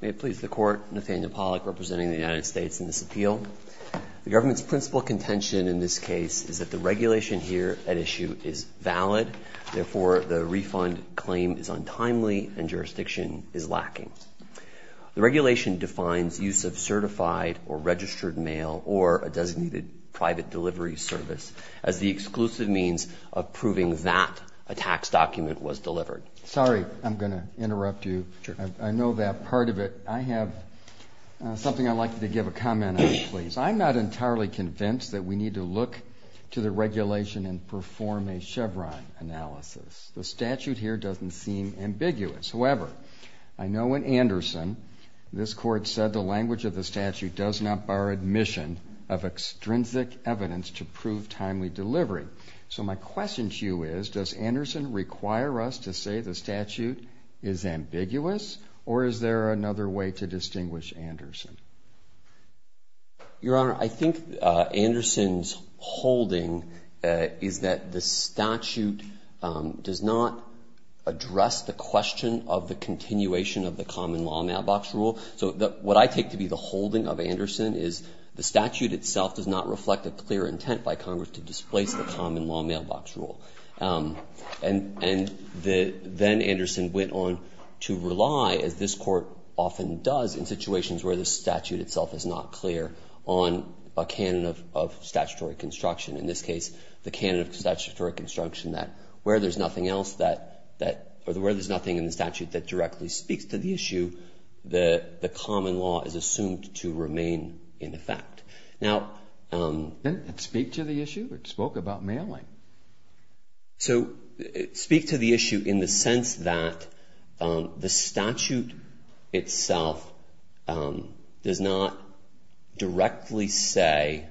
May it please the Court, Nathaniel Pollack representing the United States in this appeal. The government's principal contention in this case is that the regulation here at issue is valid. Therefore, the refund claim is untimely and jurisdiction is lacking. The regulation defines use of certified or registered mail or a designated private delivery service as the exclusive means of proving that a tax document was delivered. Sorry, I'm going to interrupt you. I know that part of it. I have something I'd like you to give a comment on, please. I'm not entirely convinced that we need to look to the regulation and perform a Chevron analysis. The statute here doesn't seem ambiguous. However, I know in Anderson this Court said the language of the statute does not bar admission of extrinsic evidence to prove timely delivery. So my question to you is, does Anderson require us to say the statute is ambiguous or is there another way to distinguish Anderson? Your Honor, I think Anderson's holding is that the statute does not address the question of the continuation of the common law mailbox rule. So what I take to be the holding of Anderson is the statute itself does not reflect a clear intent by Congress to displace the common law mailbox rule. And then Anderson went on to rely, as this Court often does in situations where the statute itself is not clear, on a canon of statutory construction, in this case the canon of statutory construction that where there's nothing else that or where there's nothing in the statute that directly speaks to the issue, Now... Didn't it speak to the issue? It spoke about mailing. So it speaks to the issue in the sense that the statute itself does not directly say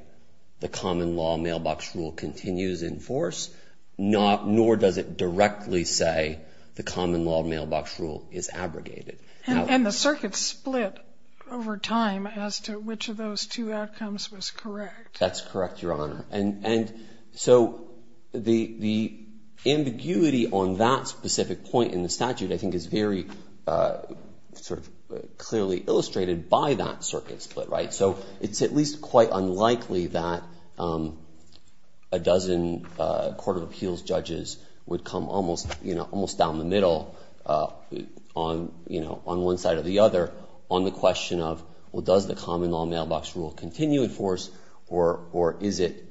the common law mailbox rule continues in force, nor does it directly say the common law mailbox rule is abrogated. And the circuit split over time as to which of those two outcomes was correct. That's correct, Your Honor. And so the ambiguity on that specific point in the statute I think is very sort of clearly illustrated by that circuit split. Right? So it's at least quite unlikely that a dozen court of appeals judges would come almost, you know, almost down the middle on one side or the other on the question of, well, does the common law mailbox rule continue in force or is it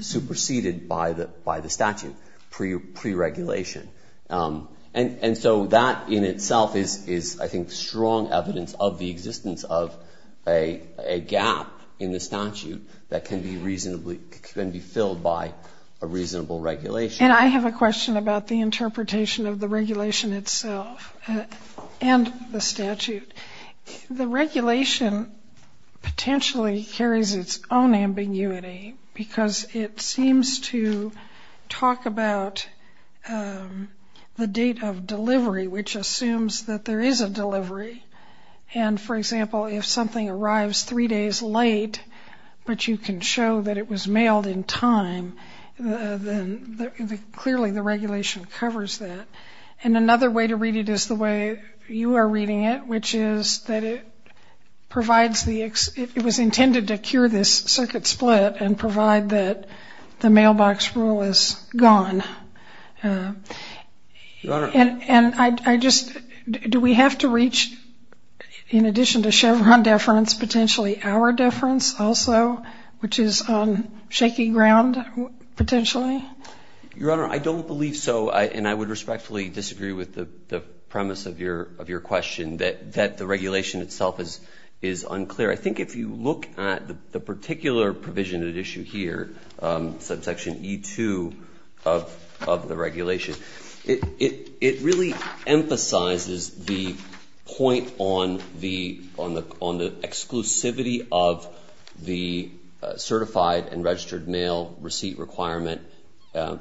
superseded by the statute pre-regulation? And so that in itself is, I think, strong evidence of the existence of a gap in the statute that can be filled by a reasonable regulation. And I have a question about the interpretation of the regulation itself and the statute. The regulation potentially carries its own ambiguity because it seems to talk about the date of delivery, which assumes that there is a delivery. And, for example, if something arrives three days late but you can show that it was mailed in time, then clearly the regulation covers that. And another way to read it is the way you are reading it, which is that it provides the ‑‑ it was intended to cure this circuit split and provide that the mailbox rule is gone. Your Honor. And I just ‑‑ do we have to reach, in addition to Chevron deference, potentially our deference also, which is on shaky ground potentially? Your Honor, I don't believe so. And I would respectfully disagree with the premise of your question that the regulation itself is unclear. I think if you look at the particular provision at issue here, subsection E2 of the regulation, it really emphasizes the point on the exclusivity of the certified and registered mail receipt requirement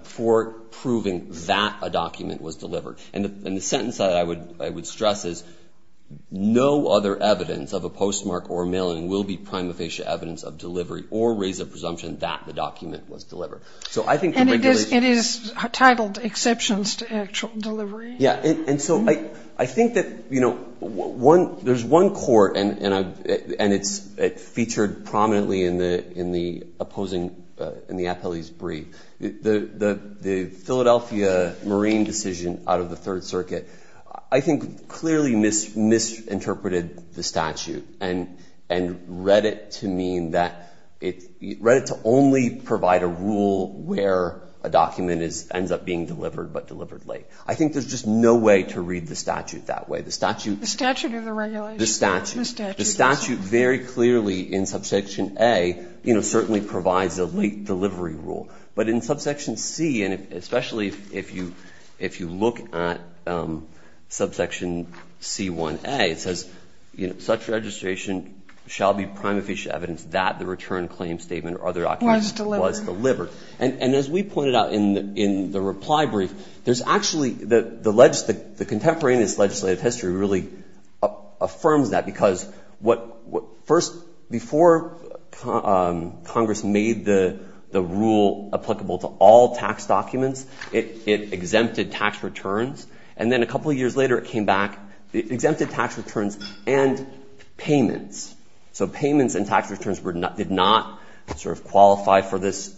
for proving that a document was delivered. And the sentence that I would stress is, no other evidence of a postmark or mailing will be prima facie evidence of delivery or raise a presumption that the document was delivered. And it is titled exceptions to actual delivery. Yeah. And so I think that, you know, there's one court, and it's featured prominently in the opposing ‑‑ in the appellee's brief. The Philadelphia Marine decision out of the Third Circuit, I think clearly misinterpreted the statute and read it to mean that ‑‑ read it to only provide a rule where a document ends up being delivered, but delivered late. I think there's just no way to read the statute that way. The statute ‑‑ The statute or the regulation? The statute. The statute. The statute very clearly in subsection A, you know, certainly provides a late delivery rule. But in subsection C, and especially if you look at subsection C1A, it says, you know, such registration shall be prima facie evidence that the return claim statement or other documents was delivered. Was delivered. And as we pointed out in the reply brief, there's actually ‑‑ the contemporaneous legislative history really affirms that, because what ‑‑ first, before Congress made the rule applicable to all tax documents, it exempted tax returns. And then a couple of years later, it came back, it exempted tax returns and payments. So payments and tax returns did not sort of qualify for this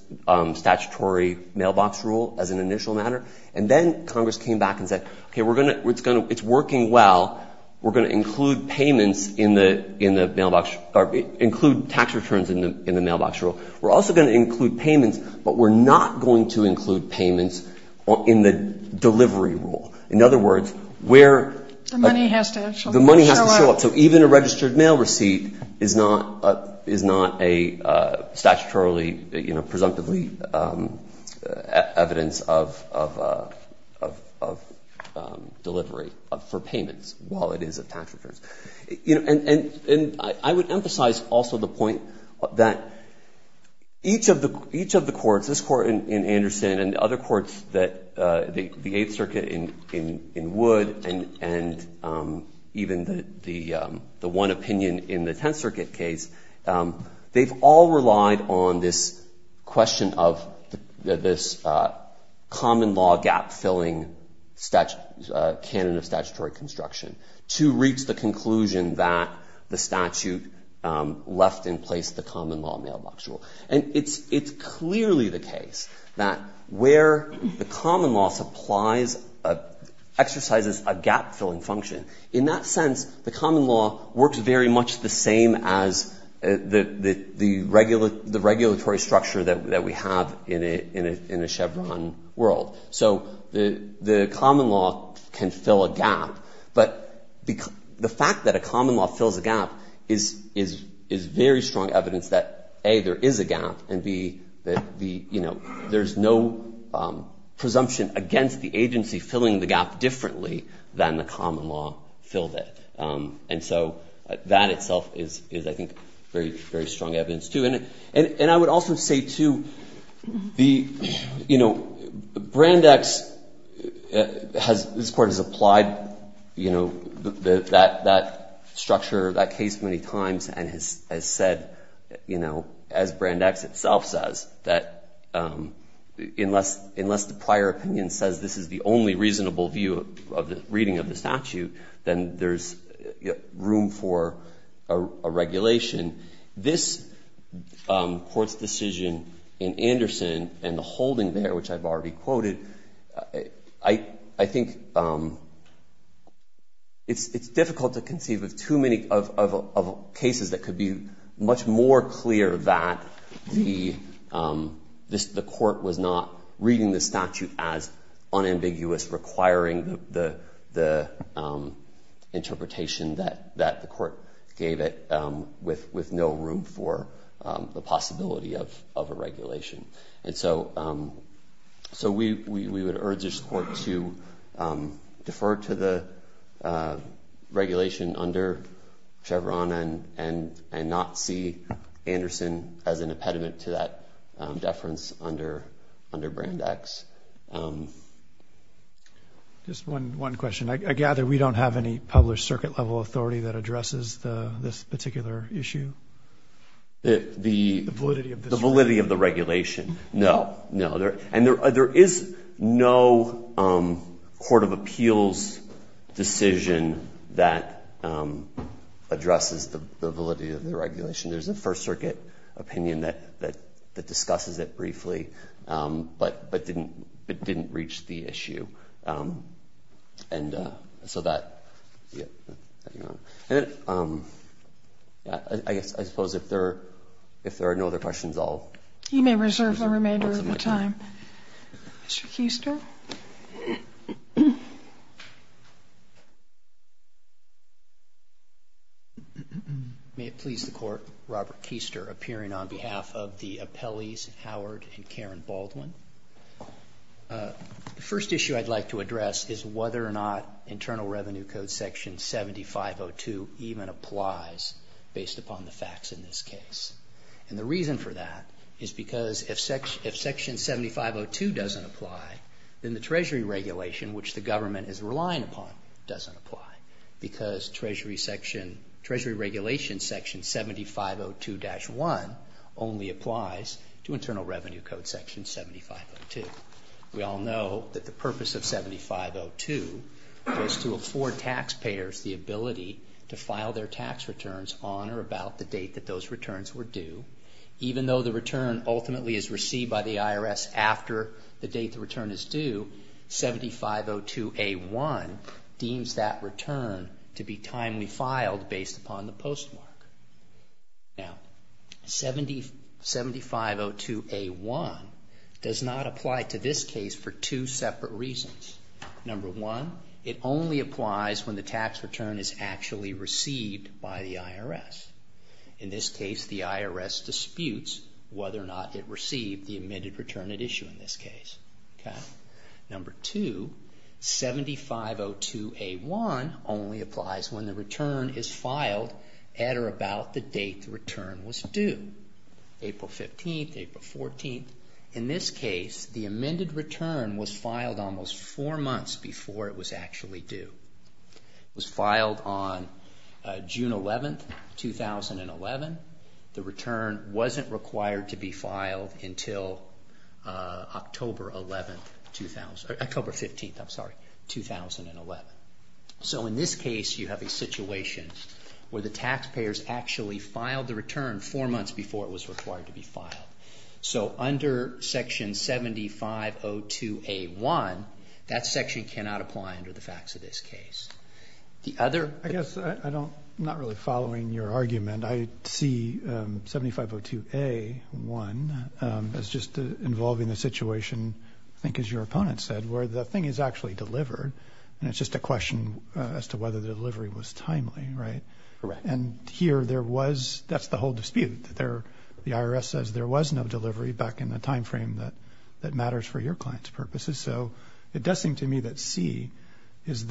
statutory mailbox rule as an initial matter. And then Congress came back and said, okay, we're going to ‑‑ it's working well. We're going to include payments in the mailbox ‑‑ or include tax returns in the mailbox rule. We're also going to include payments, but we're not going to include payments in the delivery rule. In other words, where ‑‑ The money has to actually show up. The money has to show up. So even a registered mail receipt is not a statutorily, you know, presumptively evidence of delivery for payments, while it is a tax return. You know, and I would emphasize also the point that each of the courts, this court in Anderson and other courts that ‑‑ the Eighth Circuit in Wood and even the one opinion in the Tenth Circuit case, they've all relied on this question of this common law gap filling canon of statutory construction to reach the conclusion that the statute left in place the common law mailbox rule. And it's clearly the case that where the common law supplies ‑‑ exercises a gap filling function, in that sense the common law works very much the same as the regulatory structure that we have in a Chevron world. So the common law can fill a gap, but the fact that a common law fills a gap is very strong evidence that, A, there is a gap, and, B, that the, you know, there's no presumption against the agency filling the gap differently than the common law filled it. And so that itself is, I think, very strong evidence, too. And I would also say, too, the, you know, Brandeis has ‑‑ you know, that structure, that case many times has said, you know, as Brandeis itself says, that unless the prior opinion says this is the only reasonable view of the reading of the statute, then there's room for a regulation. This Court's decision in Anderson and the holding there, which I've already quoted, I think it's difficult to conceive of too many cases that could be much more clear that the Court was not reading the statute as unambiguous, requiring the interpretation that the Court gave it with no room for the possibility of a regulation. And so we would urge this Court to defer to the regulation under Chevron, and not see Anderson as an impediment to that deference under Brandeis. Just one question. I gather we don't have any published circuit level authority that addresses this particular issue? The validity of the regulation. No, no. And there is no Court of Appeals decision that addresses the validity of the regulation. There's a First Circuit opinion that discusses it briefly, but didn't reach the issue. So that, yeah. I suppose if there are no other questions, I'll. You may reserve the remainder of your time. Mr. Keister. May it please the Court. Robert Keister, appearing on behalf of the appellees Howard and Karen Baldwin. The first issue I'd like to address is whether or not Internal Revenue Code Section 7502 even applies, based upon the facts in this case. And the reason for that is because if Section 7502 doesn't apply, then the Treasury regulation, which the government is relying upon, doesn't apply. Because Treasury regulation Section 7502-1 only applies to Internal Revenue Code Section 7502. We all know that the purpose of 7502 is to afford taxpayers the ability to file their tax returns on or about the date that those returns were due. Even though the return ultimately is received by the IRS after the date the return is due, 7502-A-1 deems that return to be timely filed based upon the postmark. Now, 7502-A-1 does not apply to this case for two separate reasons. Number one, it only applies when the tax return is actually received by the IRS. In this case, the IRS disputes whether or not it received the admitted return at issue in this case. Number two, 7502-A-1 only applies when the return is filed at or about the date the return was due. April 15th, April 14th. In this case, the amended return was filed almost four months before it was actually due. It was filed on June 11th, 2011. The return wasn't required to be filed until October 15th, 2011. So in this case, you have a situation where the taxpayers actually filed the return four months before it was required to be filed. So under Section 7502-A-1, that section cannot apply under the facts of this case. I guess I'm not really following your argument. I see 7502-A-1 as just involving the situation, I think as your opponent said, where the thing is actually delivered. And it's just a question as to whether the delivery was timely, right? And here, that's the whole dispute. The IRS says there was no delivery back in the time frame that matters for your client's purposes. It's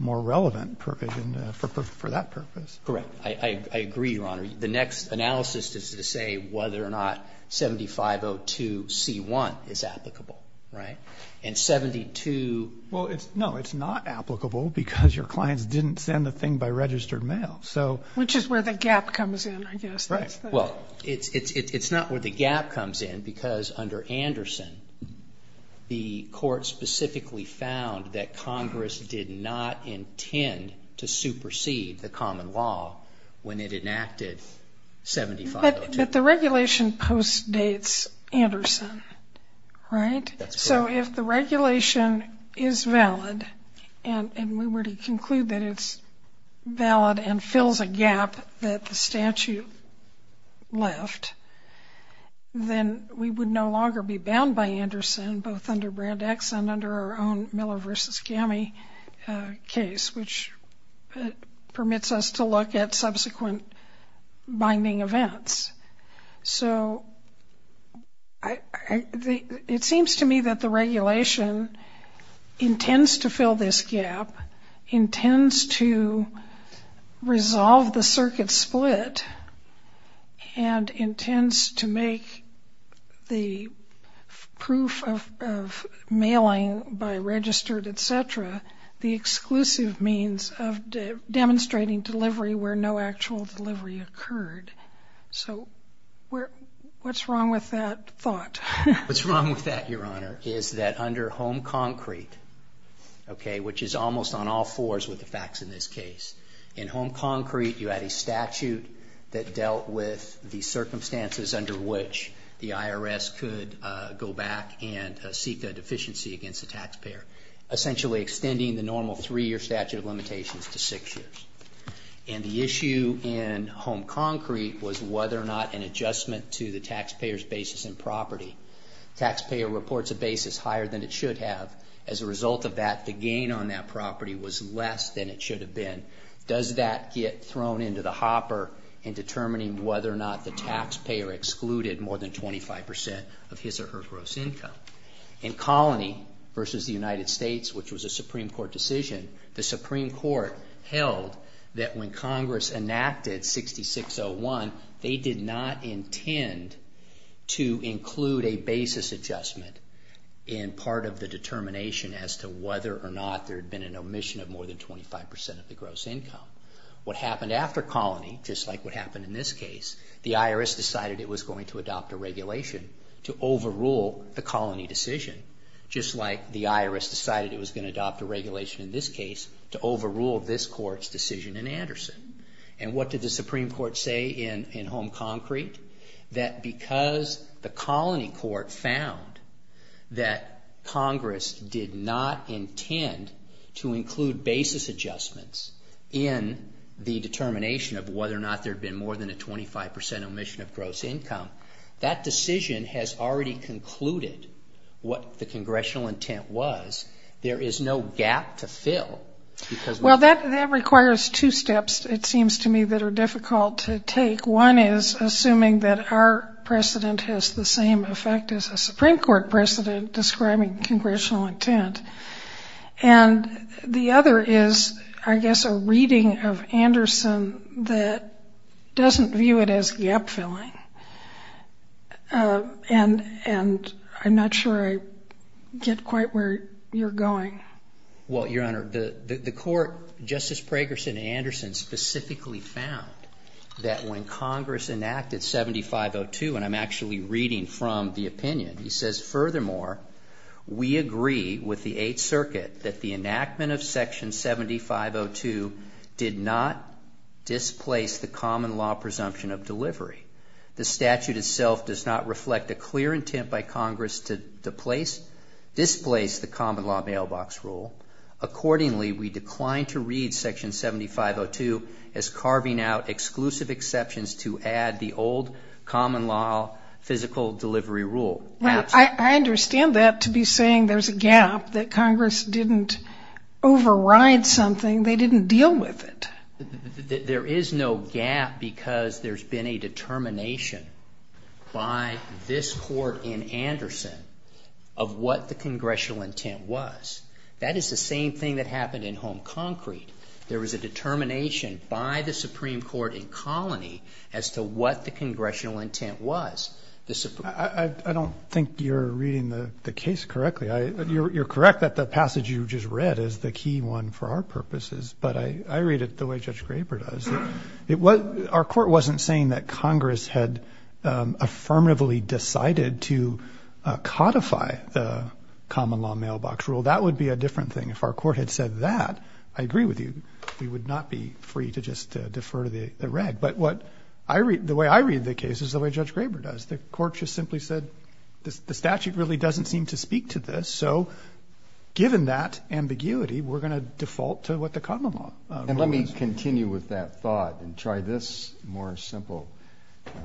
not a relevant provision for that purpose. Correct. I agree, Your Honor. The next analysis is to say whether or not 7502-C-1 is applicable, right? And 7202-A-1 is not applicable because your clients didn't send the thing by registered mail. Which is where the gap comes in, I guess. Right. Well, it's not where the gap comes in because under Anderson, the court specifically found that Congress did not intend to supersede the common law when it enacted 7502-C-1. But the regulation postdates Anderson, right? That's correct. So if the regulation is valid, and we were to conclude that it's valid and fills a gap that the statute left, then we would no longer be bound by Anderson, both under Brand X and under our own Miller v. Gammie case, which permits us to look at subsequent binding events. So it seems to me that the regulation intends to fill this gap, intends to resolve the circuit split, and intends to make the proof of mailing by registered, et cetera, the exclusive means of demonstrating delivery where no actual delivery occurred. So what's wrong with that thought? What's wrong with that, Your Honor, is that under Home Concrete, okay, which is almost on all fours with the facts in this case, in Home Concrete you had a statute that dealt with the circumstances under which the IRS could go back and seek a deficiency against the taxpayer, essentially extending the normal three-year statute of limitations to six years. And the issue in Home Concrete was whether or not an adjustment to the taxpayer's basis in property. Taxpayer reports a basis higher than it should have. As a result of that, the gain on that property was less than it should have been. Does that get thrown into the hopper in determining whether or not the taxpayer excluded more than 25 percent of his or her gross income? That when Congress enacted 6601, they did not intend to include a basis adjustment in part of the determination as to whether or not there had been an omission of more than 25 percent of the gross income. What happened after Colony, just like what happened in this case, the IRS decided it was going to adopt a regulation to overrule the Colony decision, just like the IRS decided it was going to adopt a regulation in this case to overrule this Court's decision. And what did the Supreme Court say in Home Concrete? That because the Colony Court found that Congress did not intend to include basis adjustments in the determination of whether or not there had been more than a 25 percent omission of gross income, that decision has already concluded what the Congressional intent was. There is no gap to fill. Well, that requires two steps, it seems to me, that are difficult to take. One is assuming that our precedent has the same effect as a Supreme Court precedent describing Congressional intent. And the other is, I guess, a reading of Anderson that doesn't view it as gap-filling. And I'm not sure I get quite where you're going. Well, Your Honor, the Court, Justice Pragerson and Anderson, specifically found that when Congress enacted 7502, and I'm actually reading from the opinion, he says, furthermore, we agree with the Eighth Circuit that the enactment of Section 7502 did not displace the common law presumption of the statute itself does not reflect a clear intent by Congress to displace the common law mailbox rule. Accordingly, we decline to read Section 7502 as carving out exclusive exceptions to add the old common law physical delivery rule. Well, I understand that to be saying there's a gap, that Congress didn't override something, they didn't deal with it. There is no gap because there's been a determination by this Court in Anderson of what the Congressional intent was. That is the same thing that happened in Home Concrete. There was a determination by the Supreme Court in Colony as to what the Congressional intent was. I don't think you're reading the case correctly. You're correct that the passage you just read is the key one for our purposes, but I read it the way Judge Graber does. Our Court wasn't saying that Congress had affirmatively decided to codify the common law mailbox rule. That would be a different thing. If our Court had said that, I agree with you, we would not be free to just defer to the Red. But the way I read the case is the way Judge Graber does. The Court just simply said the statute really doesn't seem to speak to this, so given that ambiguity, we're going to default to what the common law rule is. And let me continue with that thought and try this more simple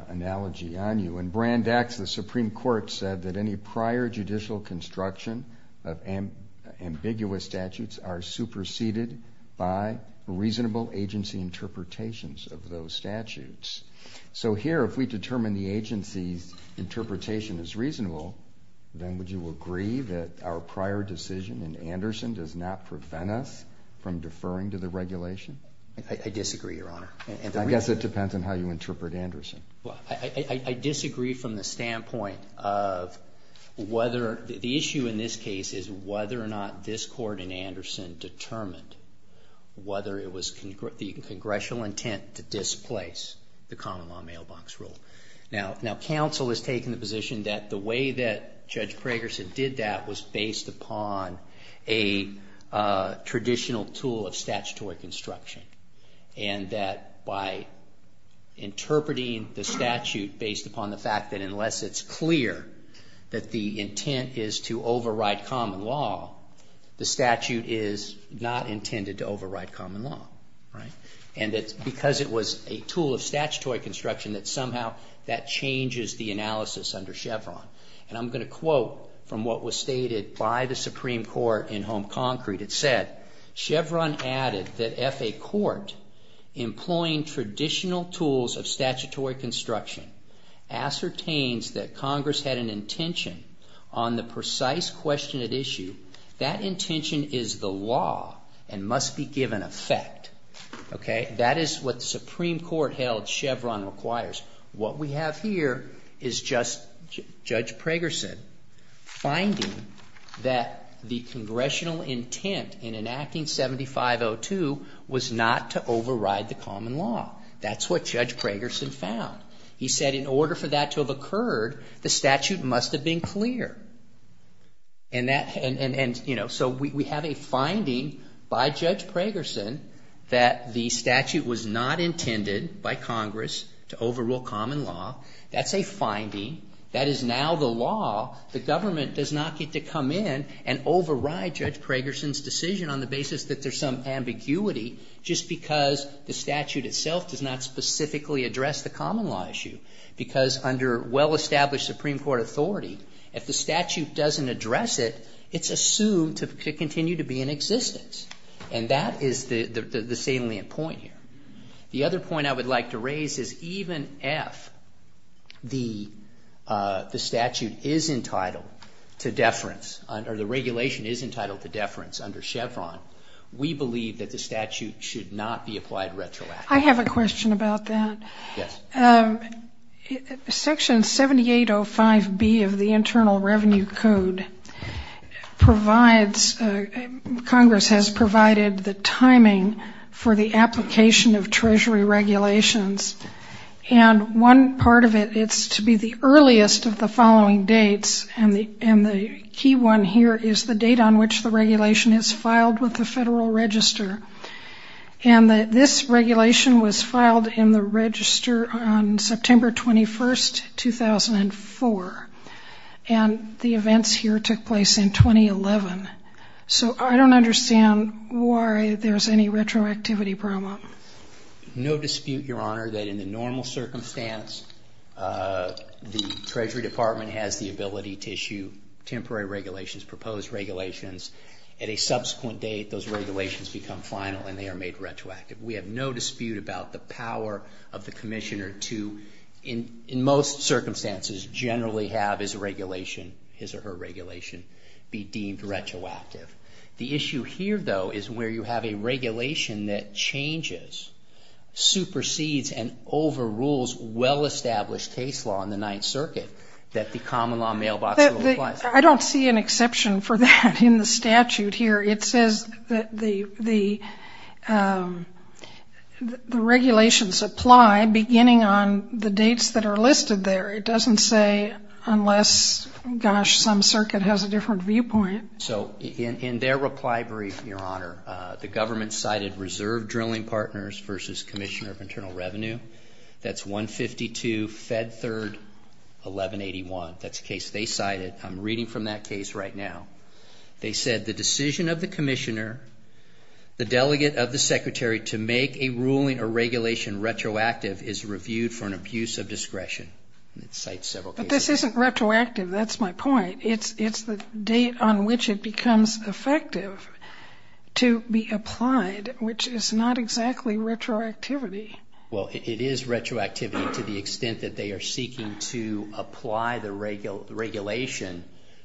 analogy on you. In Brand X, the Supreme Court said that any prior judicial construction of ambiguous statutes are superseded by reasonable agency interpretations of those statutes. So here, if we determine the agency's interpretation is reasonable, then would you agree that our prior decision in Anderson does not prevent us from deferring to the regulation? I disagree, Your Honor. I guess it depends on how you interpret Anderson. I disagree from the standpoint of whether, the issue in this case is whether or not this Court in Anderson determined whether it was the Congressional intent to displace. The common law mailbox rule. Now, counsel has taken the position that the way that Judge Pragerson did that was based upon a traditional tool of statutory construction. And that by interpreting the statute based upon the fact that unless it's clear that the intent is to override common law, the statute is not intended to override common law. And because it was a tool of statutory construction, that somehow that changes the analysis under Chevron. And I'm going to quote from what was stated by the Supreme Court in Home Concrete. It said, Chevron added that if a court employing traditional tools of statutory construction ascertains that Congress had an intention on the precise question at issue, that intention is the law and must be given effect. That is what the Supreme Court held Chevron requires. What we have here is just Judge Pragerson finding that the Congressional intent in enacting 7502 was not to override the common law. That's what Judge Pragerson found. He said in order for that to have occurred, the statute must have been clear. That the statute was not intended by Congress to overrule common law. That's a finding. That is now the law. The government does not get to come in and override Judge Pragerson's decision on the basis that there's some ambiguity just because the statute itself does not specifically address the common law issue. Because under well-established Supreme Court authority, if the statute doesn't address it, it's assumed to continue to be in existence. And that is the salient point here. The other point I would like to raise is even if the statute is entitled to deference, or the regulation is entitled to deference under Chevron, we believe that the statute should not be applied retroactively. I have a question about that. Section 7805B of the Internal Revenue Code provides, Congress has provided, that the statute should not be applied retroactively. It provided the timing for the application of Treasury regulations. And one part of it, it's to be the earliest of the following dates, and the key one here is the date on which the regulation is filed with the Federal Register. And this regulation was filed in the Register on September 21, 2004. And the events here took place in 2011. So I don't understand why there's any retroactivity problem. No dispute, Your Honor, that in the normal circumstance, the Treasury Department has the ability to issue temporary regulations, proposed regulations. At a subsequent date, those regulations become final and they are made retroactive. We have no dispute about the power of the Commissioner to, in most circumstances, generally have his or her regulation be deemed retroactive. The issue here, though, is where you have a regulation that changes, supersedes, and overrules well-established case law in the Ninth Circuit that the common law mailbox law applies to. I don't see an exception for that in the statute here. The regulations apply beginning on the dates that are listed there. It doesn't say unless, gosh, some circuit has a different viewpoint. So in their reply brief, Your Honor, the government cited Reserve Drilling Partners versus Commissioner of Internal Revenue. That's 152 Fed Third 1181. That's a case they cited. I'm reading from that case right now. They said, the decision of the Commissioner, the delegate of the Secretary to make a ruling or regulation retroactive is reviewed for an abuse of discretion. But this isn't retroactive. That's my point. It's the date on which it becomes effective to be applied, which is not exactly retroactivity. It's a decision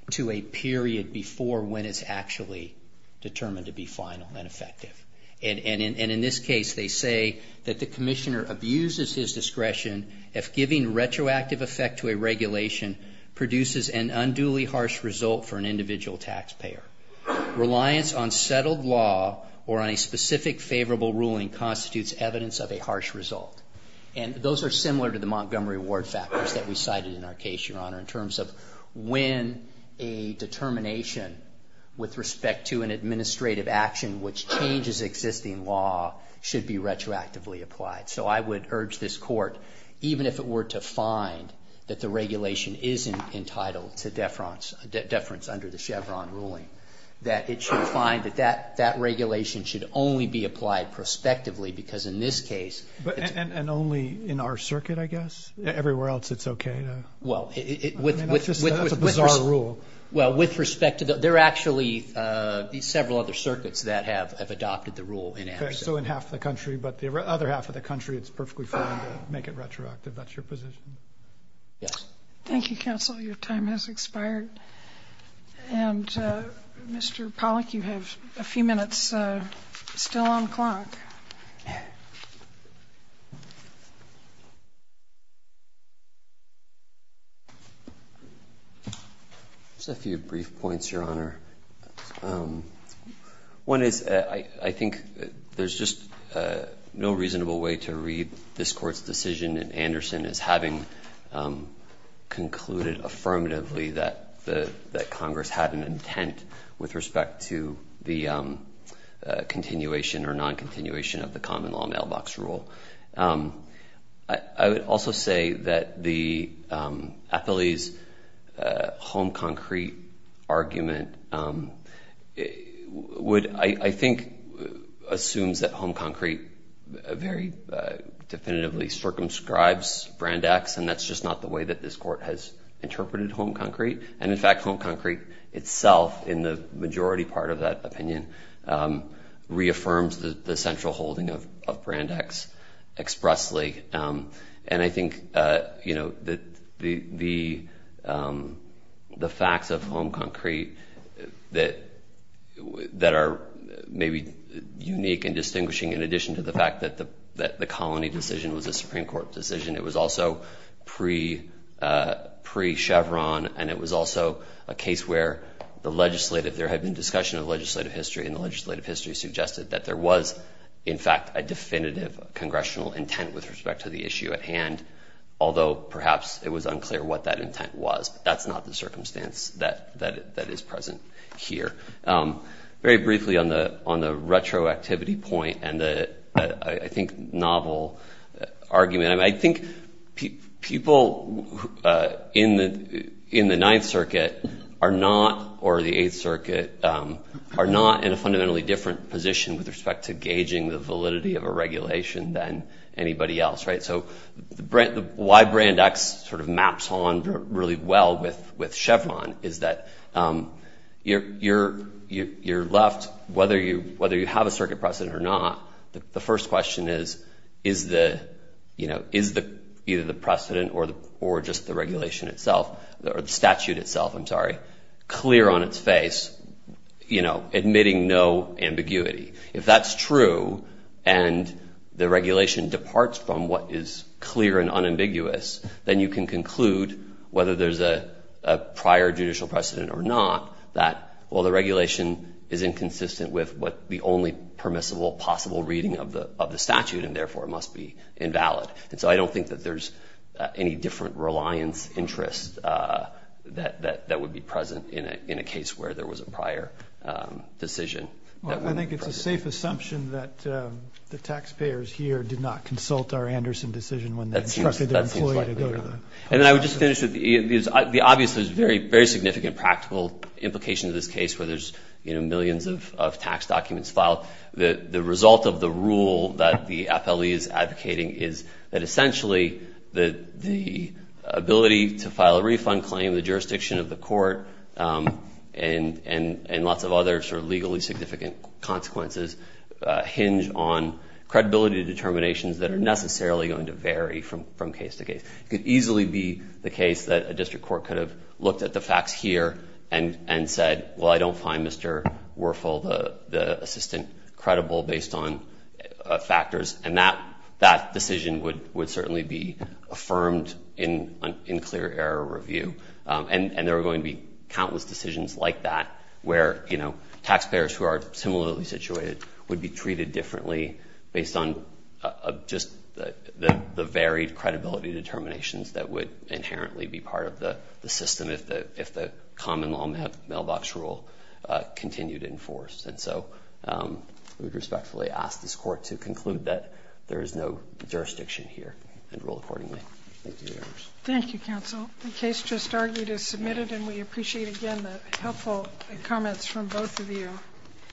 to a period before when it's actually determined to be final and effective. And in this case, they say that the Commissioner abuses his discretion if giving retroactive effect to a regulation produces an unduly harsh result for an individual taxpayer. Reliance on settled law or on a specific favorable ruling constitutes evidence of a harsh result. And those are similar to the Montgomery Ward factors that we cited in our case, Your Honor, in terms of when the Commissioner would make a ruling. So even a determination with respect to an administrative action which changes existing law should be retroactively applied. So I would urge this Court, even if it were to find that the regulation is entitled to deference under the Chevron ruling, that it should find that that regulation should only be applied prospectively because in this case... And only in our circuit, I guess? Everywhere else it's okay? Well, with respect to the... There are actually several other circuits that have adopted the rule in action. So in half the country, but the other half of the country, it's perfectly fine to make it retroactive. That's your position? Yes. Thank you, Counsel. Your time has expired. And Mr. Pollack, you have a few minutes still on clock. Just a few brief points, Your Honor. One is I think there's just no reasonable way to read this Court's decision in Anderson as having concluded affirmatively that Congress had an intent with respect to the continuation or non-continuation of the common law mailbox rule. I would also say that the Affili's home concrete argument would, I think, assumes that home concrete very definitively circumscribes Brand X, and that's just not the way that this Court has interpreted home concrete. And in fact, home concrete itself, in the majority part of that opinion, reaffirms the central holding of Brand X. And I think the facts of home concrete that are maybe unique and distinguishing in addition to the fact that the colony decision was a Supreme Court decision, it was also pre-Chevron, and it was also a case where there had been discussion of legislative history, and the legislative history suggested that there was, in fact, a definitive congressional decision. And so I think that there was a congressional intent with respect to the issue at hand, although perhaps it was unclear what that intent was, but that's not the circumstance that is present here. Very briefly on the retroactivity point and the, I think, novel argument, I think people in the Ninth Circuit are not, or the Eighth Circuit, are not in a fundamentally different position with respect to gauging the validity of a regulation than anybody else, right? So why Brand X sort of maps on really well with Chevron is that you're left, whether you have a circuit precedent or not, the first question is, is either the precedent or just the regulation itself, or the statute itself, I'm sorry, clear on its face, you know, admitting no ambiguity. If that's true, and the regulation departs from what is clear and unambiguous, then you can conclude, whether there's a prior judicial precedent or not, that, well, the regulation is inconsistent with what the only permissible possible reading of the statute, and therefore it must be invalid. And so I don't think that there's any different reliance interest that would be present in a case where there was a prior decision. I think it's a safe assumption that the taxpayers here did not consult our Anderson decision when they instructed their employee to go to the... And I would just finish with, the obvious is very, very significant practical implication of this case where there's, you know, millions of tax documents filed. The result of the rule that the FLE is advocating is that essentially the ability to file a refund claim, the jurisdiction of the court, and lots of other sort of legally significant consequences hinge on credibility determinations that are necessarily going to vary from case to case. It could easily be the case that a district court could have looked at the facts here and said, well, I don't find Mr. Werfel, the assistant, credible based on factors, and that decision would certainly be affirmed in clear error review, and there are going to be countless decisions like that where, you know, the district court, similarly situated, would be treated differently based on just the varied credibility determinations that would inherently be part of the system if the common law mailbox rule continued in force. And so I would respectfully ask this court to conclude that there is no jurisdiction here and rule accordingly. Thank you, Your Honors.